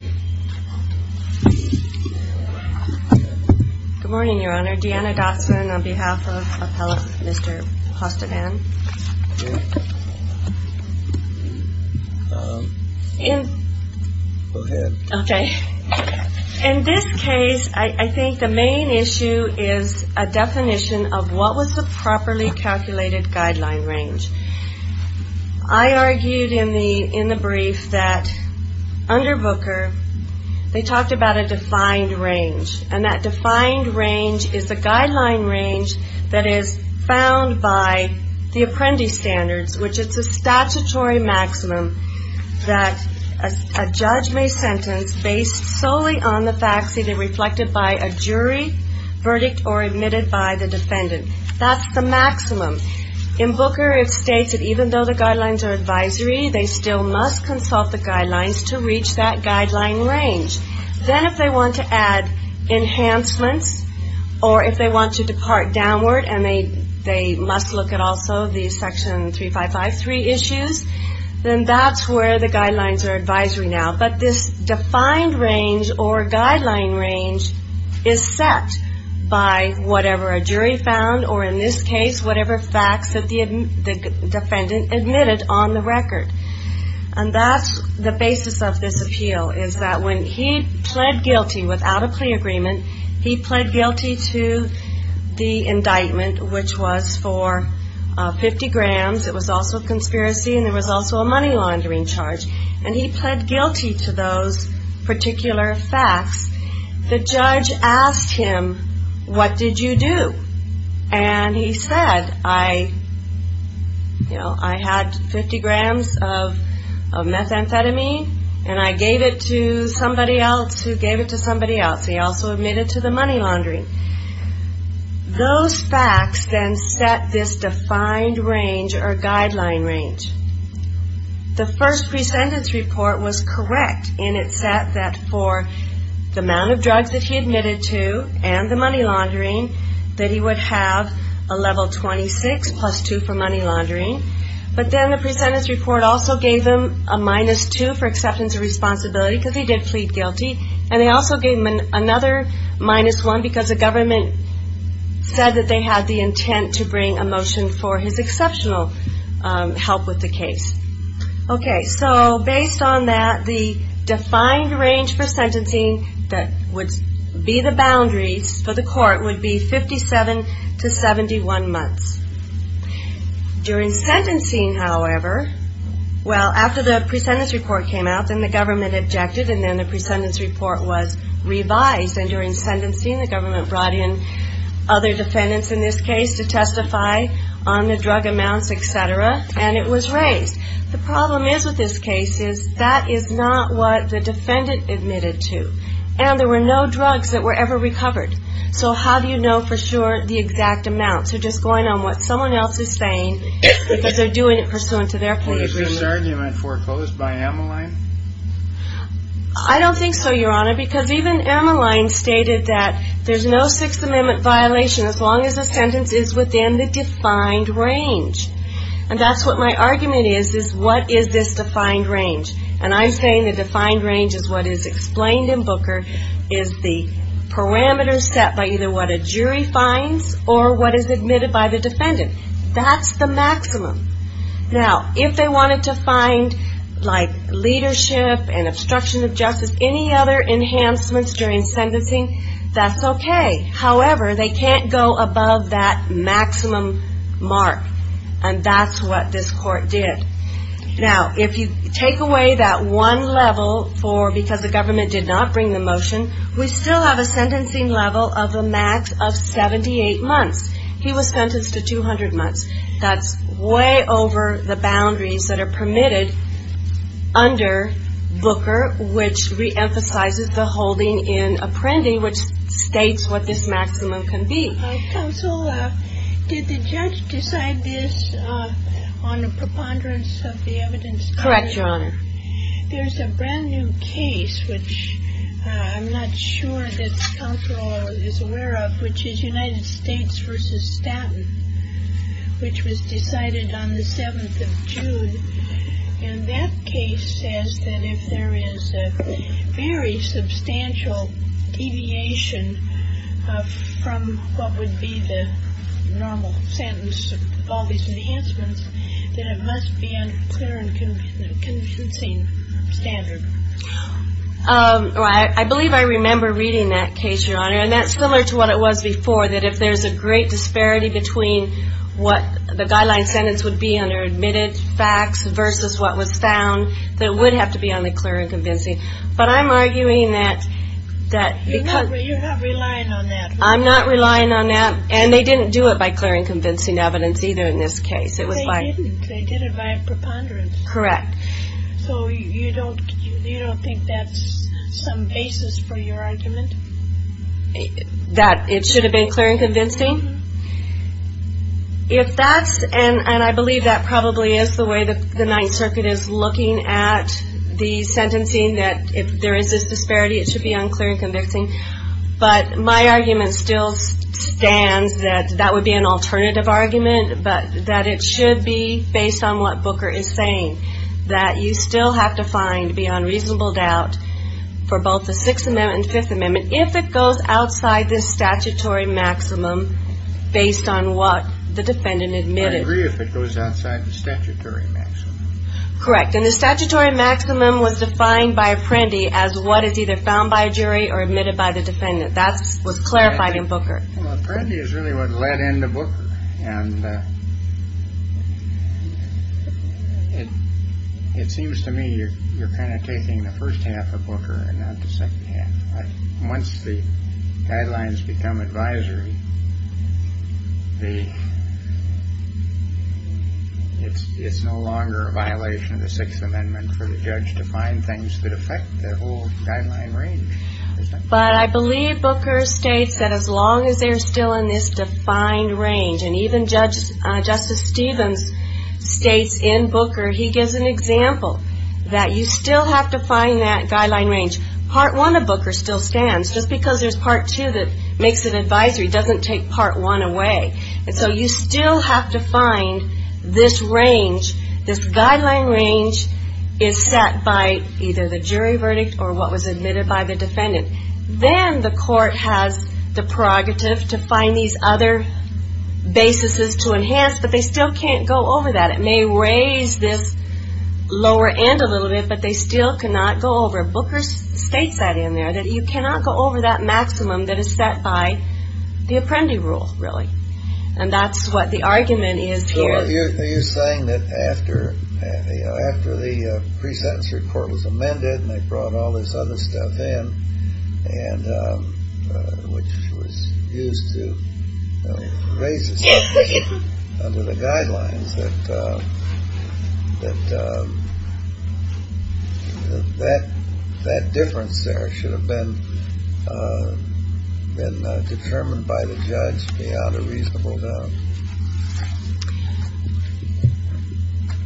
In this case, I think the main issue is a definition of what was the properly calculated guideline range. I argued in the brief that under Booker, they talked about a defined range, and that defined range is the guideline range that is found by the apprentice standards, which is a statutory maximum that a judge may sentence based solely on the facts either In Booker, it states that even though the guidelines are advisory, they still must consult the guidelines to reach that guideline range. Then if they want to add enhancements, or if they want to depart downward and they must look at also the section 3553 issues, then that's where the guidelines are advisory now. But this defined range or guideline range is set by whatever a jury found, or in this case, whatever facts that the defendant admitted on the record. And that's the basis of this appeal, is that when he pled guilty without a plea agreement, he pled guilty to the indictment, which was for 50 grams. It was also a conspiracy and there was also a money laundering charge. And he pled guilty to those particular facts. The judge asked him, what did you do? And he said, I, you know, I had 50 grams of methamphetamine and I gave it to somebody else who gave it to somebody else. He also admitted to the money laundering. Those facts then set this defined range or guideline range. The first presentence report was correct and it said that for the amount of drugs that he admitted to and the money laundering, that he would have a level 26 plus 2 for money laundering. But then the presentence report also gave him a minus 2 for acceptance of responsibility because he did plead guilty. And they also gave him another minus 1 because the government said that they had the intent to bring a motion for his exceptional help with the case. Okay, so based on that, the defined range for sentencing that would be the boundaries for the court would be 57 to 71 months. During sentencing, however, well, after the presentence report came out, then the government objected and then the presentence report was revised and during sentencing, the government brought in other defendants in this case to testify on the drug amounts, et cetera, and it was raised. The problem is with this case is that is not what the defendant admitted to. And there were no drugs that were ever recovered. So how do you know for sure the exact amounts? You're just going on what someone else is saying because they're doing it pursuant to their pleas. Was this argument foreclosed by Amaline? I don't think so, Your Honor, because even Amaline stated that there's no Sixth Amendment violation as long as the sentence is within the defined range. And that's what my argument is, is what is this defined range? And I'm saying the defined range is what is explained in Booker is the parameters set by either what a jury finds or what is admitted by the defendant. That's the maximum. Now, if they wanted to find, like, leadership and obstruction of justice, any other enhancements during sentencing, that's okay. However, they can't go above that maximum mark. And that's what this court did. Now, if you take away that one level for because the government did not bring the motion, we still have a sentencing level of a max of 78 months. He was sentenced to 200 months. That's way over the boundaries that are permitted under Booker, which reemphasizes the holding in Apprendi, which states what this maximum can be. Counsel, did the judge decide this on a preponderance of the evidence? Correct, Your Honor. There's a brand new case, which I'm not sure that counsel is aware of, which is United States, which was decided on the 7th of June. And that case says that if there is a very substantial deviation from what would be the normal sentence of all these enhancements, that it must be on a clear and convincing standard. I believe I remember reading that case, Your Honor. And that's similar to what it was before, that if there's a great disparity between what the guideline sentence would be under admitted facts versus what was found, that it would have to be on the clear and convincing. But I'm arguing that... You're not relying on that. I'm not relying on that. And they didn't do it by clear and convincing evidence either in this case. They didn't. They did it by a preponderance. Correct. So you don't think that's some basis for your argument? That it should have been clear and convincing? If that's... And I believe that probably is the way the Ninth Circuit is looking at the sentencing, that if there is this disparity, it should be on clear and convincing. But my argument still stands that that would be an alternative argument, but that it should be based on what Booker is saying, that you still have to find, beyond reasonable doubt, for both the Sixth Amendment and the Fifth Amendment, if it goes outside the statutory maximum based on what the defendant admitted. I agree if it goes outside the statutory maximum. Correct. And the statutory maximum was defined by Apprendi as what is either found by a jury or admitted by the defendant. That was clarified in Booker. Well, Apprendi is really what led into Booker. And it seems to me you're kind of taking the first half of Booker and not the second half. Once the guidelines become advisory, it's no longer a violation of the Sixth Amendment for the judge to find things that affect the whole guideline range. But I believe Booker states that as long as they're still in this defined range, and even Justice Stevens states in Booker, he gives an example, that you still have to find that guideline range. Part 1 of Booker still stands, just because there's Part 2 that makes it advisory doesn't take Part 1 away. And so you still have to find this range, this guideline range is set by either the jury or the defendant. Then the court has the prerogative to find these other basises to enhance, but they still can't go over that. It may raise this lower end a little bit, but they still cannot go over it. Booker states that in there, that you cannot go over that maximum that is set by the Apprendi rule, really. And that's what the argument is here. Are you saying that after the pre-sentence report was amended and they brought all this other stuff in, which was used to raise the subject under the guidelines, that that difference there should have been determined by the judge beyond a reasonable doubt?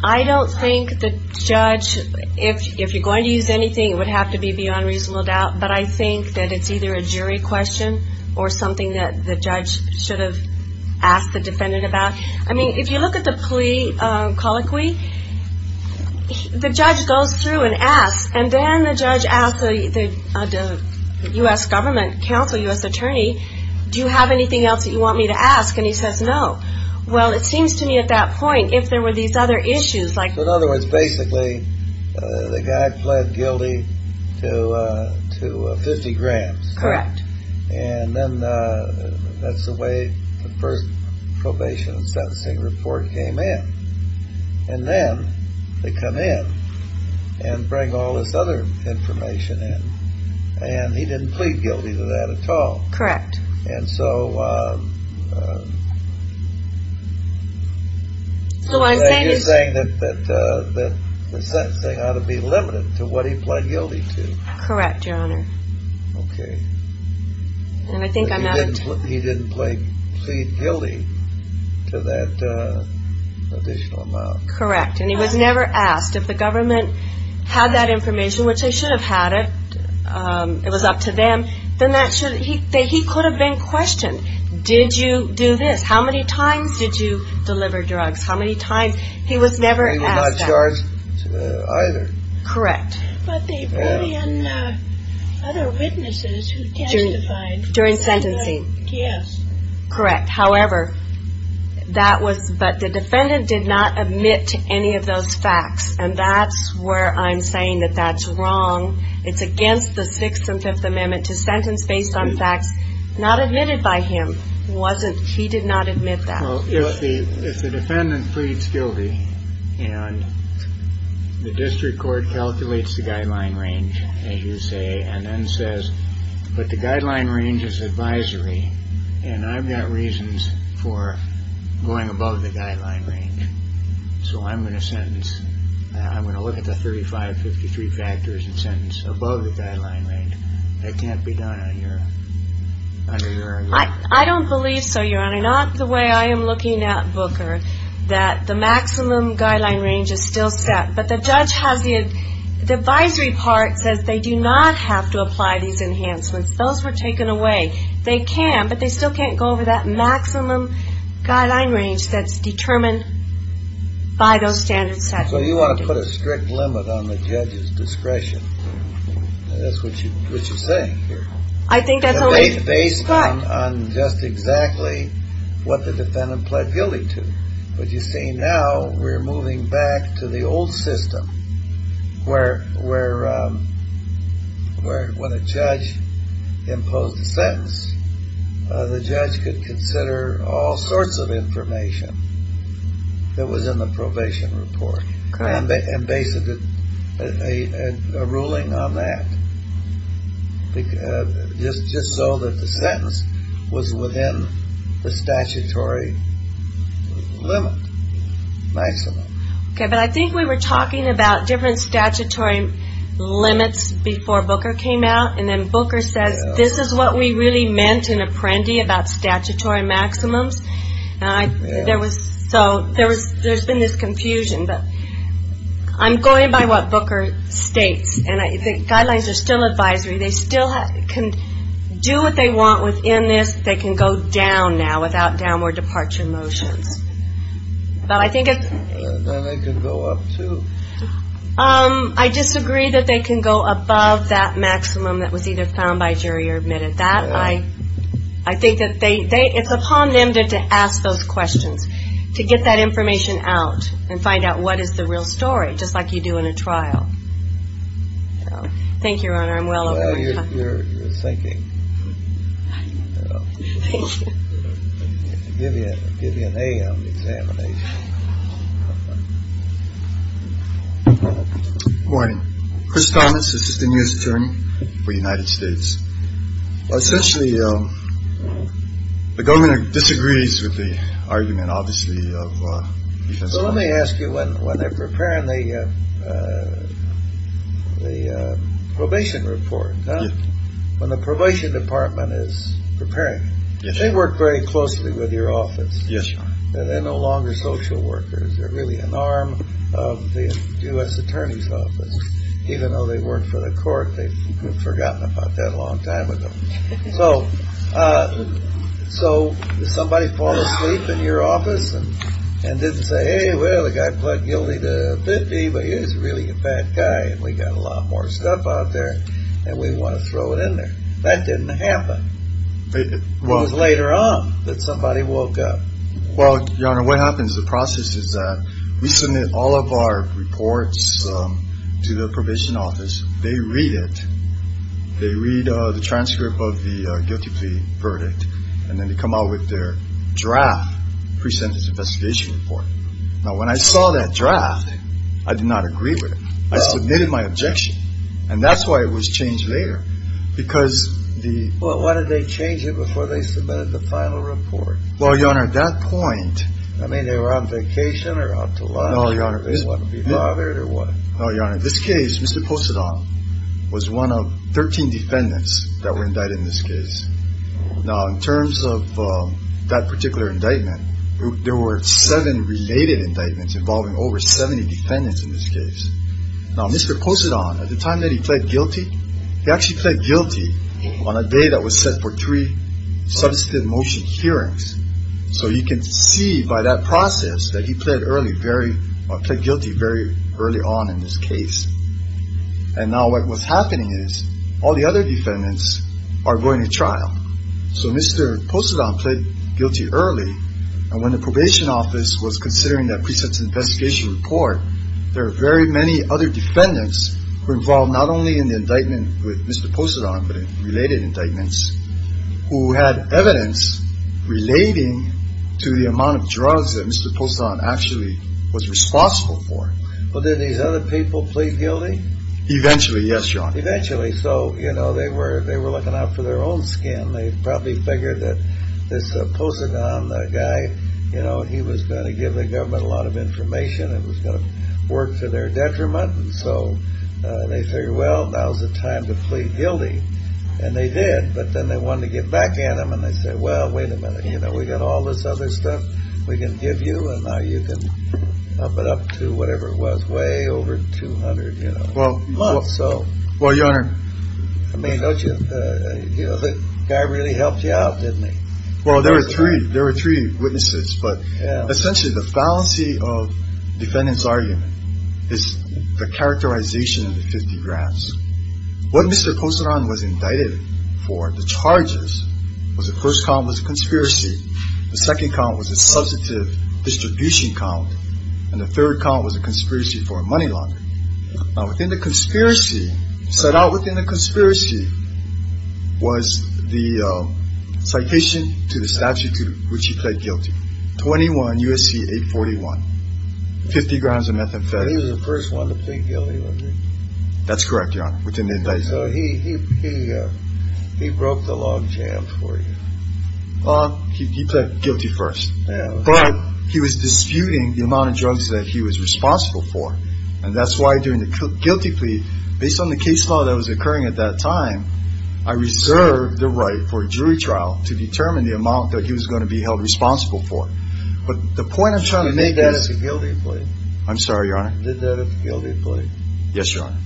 I don't think the judge, if you're going to use anything, it would have to be beyond reasonable doubt, but I think that it's either a jury question or something that the judge should have asked the defendant about. I mean, if you look at the plea colloquy, the judge goes through and asks, and then the judge asks the U.S. government counsel, U.S. attorney, do you have anything else that you want me to ask? And he says no. Well, it seems to me at that point, if there were these other issues, like... In other words, basically, the guy pled guilty to 50 grams. Correct. And then that's the way the first probation and sentencing report came in. And then they come in and bring all this other information in. And he didn't plead guilty to that at all. Correct. And so... So what I'm saying is... You're saying that the sentencing ought to be limited to what he pled guilty to. Correct, Your Honor. Okay. And I think I'm not... He didn't plead guilty to that additional amount. Correct. And he was never asked. If the government had that information, which they should have had it, it was up to them, then he could have been questioned. Did you do this? How many times did you deliver drugs? How many times? He was never asked that. He was not charged either. Correct. But they bring in other witnesses who testified. During sentencing. Yes. Correct. However, that was... But the defendant did not admit to any of those facts. And that's where I'm saying that that's wrong. It's against the Sixth and Fifth Amendment to sentence based on facts not admitted by him. He did not admit that. Well, if the defendant pleads guilty and the district court calculates the guideline range, as you say, and then says, but the guideline range is advisory, and I've got reasons for going above the guideline range, so I'm going to sentence... I'm going to look at the 3553 factors and sentence above the guideline range. That can't be done under your... I don't believe so, Your Honor. Not the way I am looking at Booker, that the maximum guideline range is still set, but the judge has the advisory part says they do not have to apply these enhancements. Those were taken away. They can, but they still can't go over that maximum guideline range that's determined by those standards set. So you want to put a strict limit on the judge's discretion. That's what you're saying here. I think that's only... on just exactly what the defendant pled guilty to, but you see now we're moving back to the old system where when a judge imposed a sentence, the judge could consider all sorts of information that was in the probation report and base a ruling on that just so that the sentence was within the statutory limit, maximum. Okay, but I think we were talking about different statutory limits before Booker came out, and then Booker says, this is what we really meant in Apprendi about statutory maximums. So there's been this confusion, but I'm going by what Booker states, and the guidelines are still advisory. They still can do what they want within this. They can go down now without downward departure motions. But I think it's... Then they can go up too. I disagree that they can go above that maximum that was either found by a jury or admitted that. I think that it's upon them to ask those questions, to get that information out and find out what is the real story, just like you do in a trial. Thank you, Your Honor. I'm well over time. Well, you're thinking. Thank you. Give you an A on the examination. Good morning. Chris Thomas, Assistant U.S. Attorney for the United States. Essentially, the government disagrees with the argument, obviously. Let me ask you, when they're preparing the probation report, when the probation department is preparing, they work very closely with your office. Yes. They're no longer social workers. They're really an arm of the U.S. Attorney's Office. Even though they work for the court, they've forgotten about that a long time ago. So somebody falls asleep in your office and didn't say, hey, well, the guy pled guilty to 50, but he's really a bad guy and we've got a lot more stuff out there and we want to throw it in there. That didn't happen. It was later on that somebody woke up. Well, Your Honor, what happens, the process is that we submit all of our reports to the probation office. They read it. They read the transcript of the guilty plea verdict and then they come out with their draft pre-sentence investigation report. Now, when I saw that draft, I did not agree with it. I submitted my objection. And that's why it was changed later, because the – Well, why did they change it before they submitted the final report? Well, Your Honor, at that point – I mean, they were on vacation or out to lunch? No, Your Honor. They didn't want to be bothered or what? No, Your Honor. In this case, Mr. Posadon was one of 13 defendants that were indicted in this case. Now, in terms of that particular indictment, there were seven related indictments involving over 70 defendants in this case. Now, Mr. Posadon, at the time that he pled guilty, he actually pled guilty on a day that was set for three substantive motion hearings. So you can see by that process that he pled guilty very early on in this case. And now what's happening is all the other defendants are going to trial. So Mr. Posadon pled guilty early, and when the probation office was considering that pre-sentence investigation report, there were very many other defendants who were involved not only in the indictment with Mr. Posadon but in related indictments, who had evidence relating to the amount of drugs that Mr. Posadon actually was responsible for. Well, did these other people plead guilty? Eventually, yes, Your Honor. Eventually. So, you know, they were looking out for their own skin. They probably figured that this Posadon guy, you know, he was going to give the government a lot of information. It was going to work to their detriment. And so they figured, well, now's the time to plead guilty. And they did. But then they wanted to get back at him, and they said, well, wait a minute. You know, we got all this other stuff we can give you, and now you can up it up to whatever it was, way over 200, you know. Well, Your Honor. I mean, don't you, you know, the guy really helped you out, didn't he? Well, there were three. There were three witnesses. But essentially, the fallacy of defendant's argument is the characterization of the 50 grams. What Mr. Posadon was indicted for, the charges, was the first count was a conspiracy. The second count was a substantive distribution count. And the third count was a conspiracy for money laundering. Now, within the conspiracy, set out within the conspiracy, was the citation to the statute to which he pled guilty, 21 U.S.C. 841, 50 grams of methamphetamine. He was the first one to plead guilty, wasn't he? That's correct, Your Honor, within the indictment. So he broke the log jam for you. Well, he pled guilty first. But he was disputing the amount of drugs that he was responsible for. And that's why during the guilty plea, based on the case law that was occurring at that time, I reserved the right for a jury trial to determine the amount that he was going to be held responsible for. But the point I'm trying to make is. He did that at the guilty plea. I'm sorry, Your Honor. He did that at the guilty plea. Yes, Your Honor.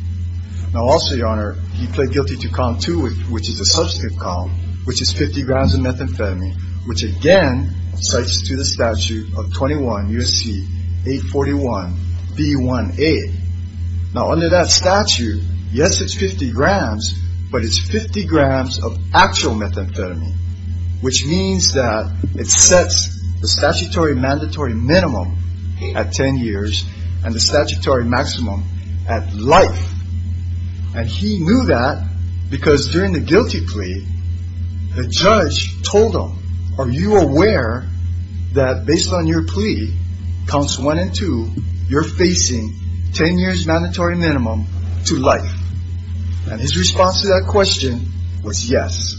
Now, also, Your Honor, he pled guilty to column two, which is a substantive column, which is 50 grams of methamphetamine, which, again, cites to the statute of 21 U.S.C. 841, B1A. Now, under that statute, yes, it's 50 grams, but it's 50 grams of actual methamphetamine, which means that it sets the statutory mandatory minimum at 10 years and the statutory maximum at life. And he knew that because during the guilty plea, the judge told him, are you aware that based on your plea, counts one and two, you're facing 10 years mandatory minimum to life? And his response to that question was yes.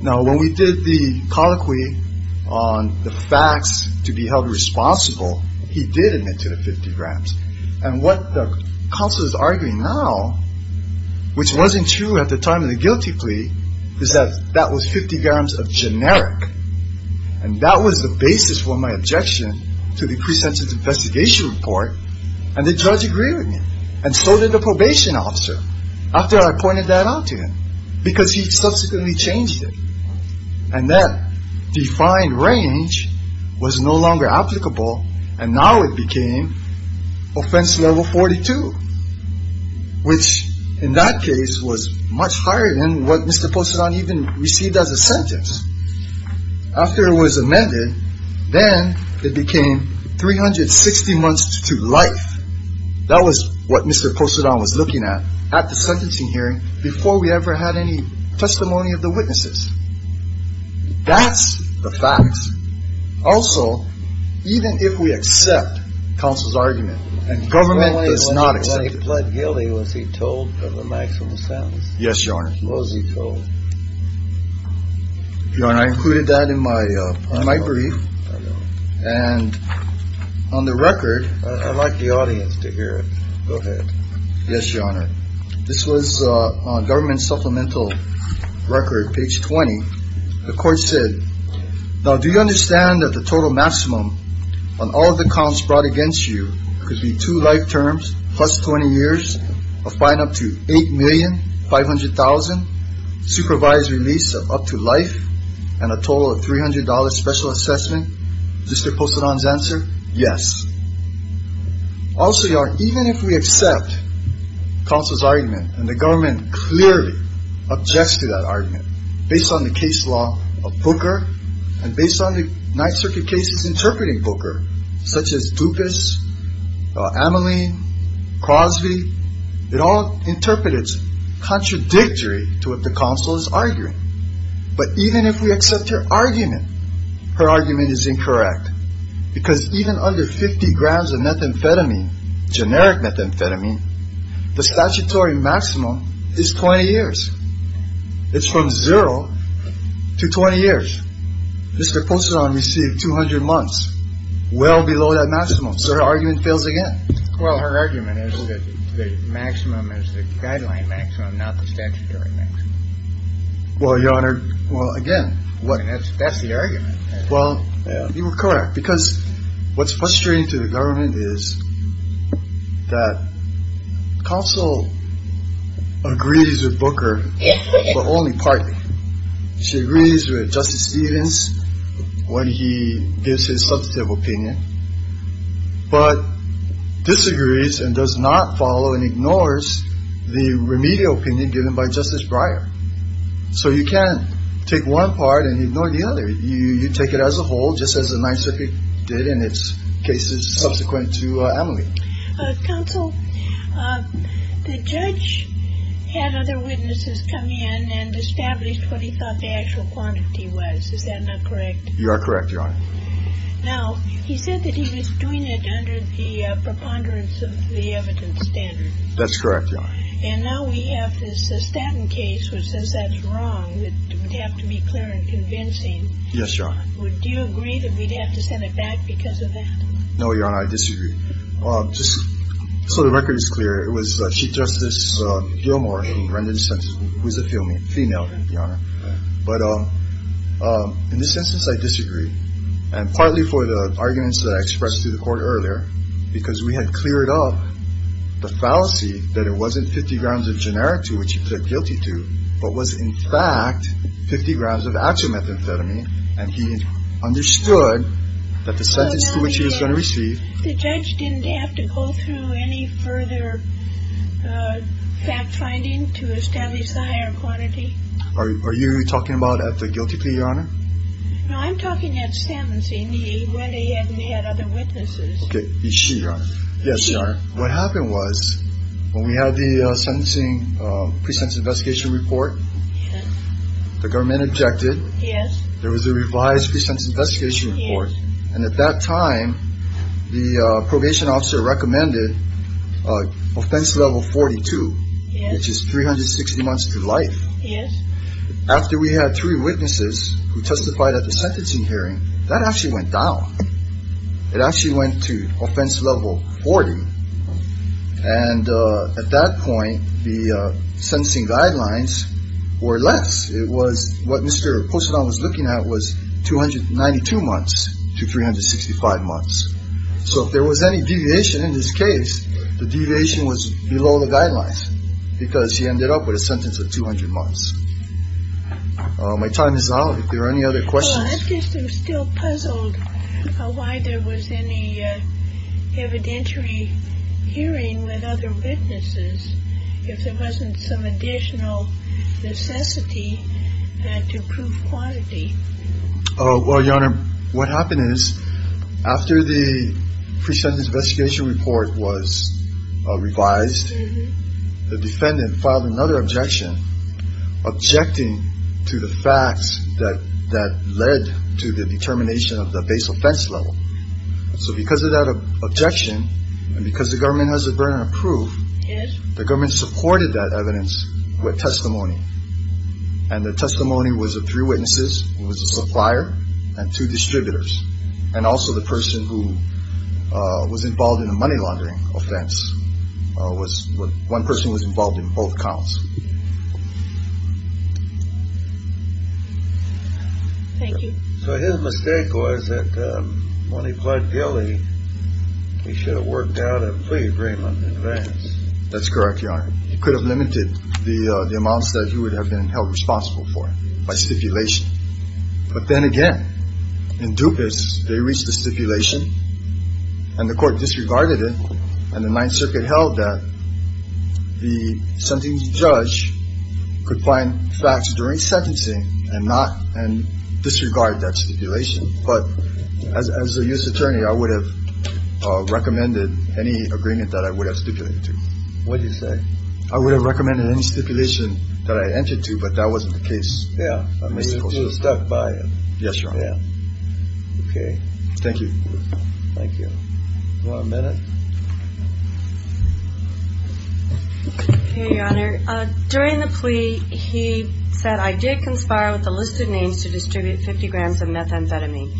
Now, when we did the colloquy on the facts to be held responsible, he did admit to the 50 grams. And what the counsel is arguing now, which wasn't true at the time of the guilty plea, is that that was 50 grams of generic. And that was the basis for my objection to the pre-sentence investigation report, and the judge agreed with me. And so did the probation officer after I pointed that out to him because he subsequently changed it. And that defined range was no longer applicable, and now it became offense level 42, which in that case was much higher than what Mr. Posadon even received as a sentence. After it was amended, then it became 360 months to life. That was what Mr. Posadon was looking at at the sentencing hearing before we ever had any testimony of the witnesses. That's the fact. Also, even if we accept counsel's argument, and government does not accept it. When he pled guilty, was he told of the maximum sentence? Yes, Your Honor. Was he told? Your Honor, I included that in my brief. And on the record. I'd like the audience to hear it. Go ahead. Yes, Your Honor. This was on government supplemental record, page 20. The court said, now do you understand that the total maximum on all of the counts brought against you could be two life terms plus 20 years of fine up to $8,500,000, supervised release of up to life, and a total of $300 special assessment? Mr. Posadon's answer, yes. Also, Your Honor, even if we accept counsel's argument, and the government clearly objects to that argument, based on the case law of Booker, and based on the Ninth Circuit cases interpreting Booker, such as Dupas, Ameline, Crosby, it all interprets contradictory to what the counsel is arguing. But even if we accept her argument, her argument is incorrect. Because even under 50 grams of methamphetamine, generic methamphetamine, the statutory maximum is 20 years. It's from zero to 20 years. Mr. Posadon received 200 months, well below that maximum. So her argument fails again. Well, her argument is that the maximum is the guideline maximum, not the statutory maximum. Well, Your Honor, well, again. That's the argument. Well, you were correct. Because what's frustrating to the government is that counsel agrees with Booker, but only partly. She agrees with Justice Stevens when he gives his substantive opinion, but disagrees and does not follow and ignores the remedial opinion given by Justice Breyer. So you can't take one part and ignore the other. You take it as a whole, just as the Ninth Circuit did in its cases subsequent to Ameline. Counsel, the judge had other witnesses come in and establish what he thought the actual quantity was. Is that not correct? You are correct, Your Honor. Now, he said that he was doing it under the preponderance of the evidence standard. That's correct, Your Honor. And now we have this Stanton case which says that's wrong. It would have to be clear and convincing. Yes, Your Honor. Do you agree that we'd have to send it back because of that? No, Your Honor, I disagree. Just so the record is clear, it was Chief Justice Gilmore who rendered the sentence, who is a female, Your Honor. But in this instance, I disagree. And partly for the arguments that I expressed to the Court earlier, because we had cleared up the fallacy that it wasn't 50 grams of genera to which he pled guilty to, but was, in fact, 50 grams of actual methamphetamine, and he understood that the sentence to which he was going to receive The judge didn't have to go through any further fact-finding to establish the higher quantity. Are you talking about at the guilty plea, Your Honor? No, I'm talking at sentencing. He went ahead and had other witnesses. Okay. Is she, Your Honor? Yes, Your Honor. What happened was when we had the sentencing pre-sentence investigation report, the government objected. Yes. There was a revised pre-sentence investigation report. Yes. And at that time, the probation officer recommended offense level 42. Yes. Which is 360 months to life. Yes. After we had three witnesses who testified at the sentencing hearing, that actually went down. It actually went to offense level 40. And at that point, the sentencing guidelines were less. It was what Mr. Posadon was looking at was 292 months to 365 months. So if there was any deviation in this case, the deviation was below the guidelines because he ended up with a sentence of 200 months. My time is up. If there are any other questions. I guess I'm still puzzled why there was any evidentiary hearing with other witnesses if there wasn't some additional necessity to prove quality. Well, Your Honor, what happened is after the pre-sentence investigation report was revised, the defendant filed another objection objecting to the facts that led to the determination of the base offense level. So because of that objection and because the government has a burden of proof, the government supported that evidence with testimony. And the testimony was of three witnesses. It was a supplier and two distributors. And also the person who was involved in the money laundering offense was one person was involved in both counts. Thank you. So his mistake was that when he pled guilty, he should have worked out a plea agreement in advance. That's correct, Your Honor. He could have limited the amounts that he would have been held responsible for by stipulation. But then again, in dupas, they reached the stipulation and the court disregarded it. And the Ninth Circuit held that the sentencing judge could find facts during sentencing and not disregard that stipulation. But as a U.S. attorney, I would have recommended any agreement that I would have stipulated to. What do you say? I would have recommended any stipulation that I entered to, but that wasn't the case. Yeah. You were stuck by it. Yes, Your Honor. Yeah. Okay. Thank you. Thank you. One minute. Okay, Your Honor. During the plea, he said, I did conspire with the listed names to distribute 50 grams of methamphetamine.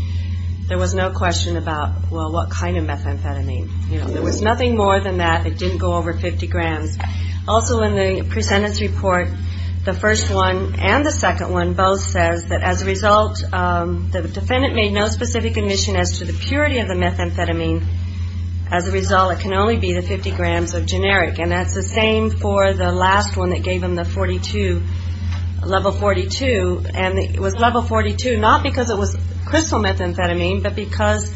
There was no question about, well, what kind of methamphetamine. There was nothing more than that. It didn't go over 50 grams. Also in the presentence report, the first one and the second one both says that as a result, the defendant made no specific admission as to the purity of the methamphetamine. As a result, it can only be the 50 grams of generic. And that's the same for the last one that gave him the 42, level 42. And it was level 42 not because it was crystal methamphetamine, but because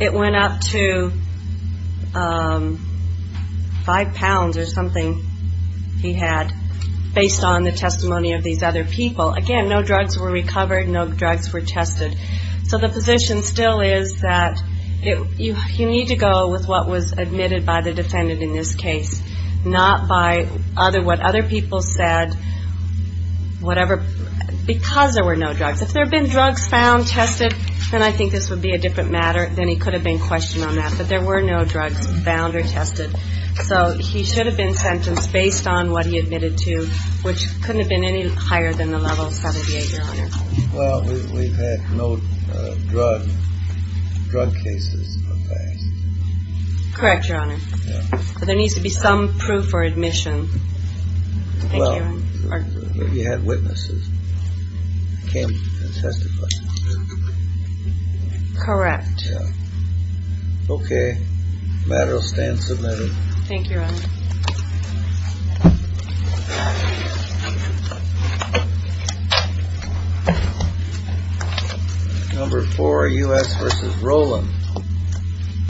it went up to five pounds or something he had based on the testimony of these other people. Again, no drugs were recovered, no drugs were tested. So the position still is that you need to go with what was admitted by the defendant in this case, not by what other people said, because there were no drugs. If there had been drugs found, tested, then I think this would be a different matter. Then he could have been questioned on that. But there were no drugs found or tested. So he should have been sentenced based on what he admitted to, which couldn't have been any higher than the level 78, Your Honor. Well, we've had no drug cases in the past. Correct, Your Honor. But there needs to be some proof or admission. Well, he had witnesses, came and testified. Correct. Okay, the matter will stand submitted. Thank you, Your Honor. Number four, U.S. v. Roland.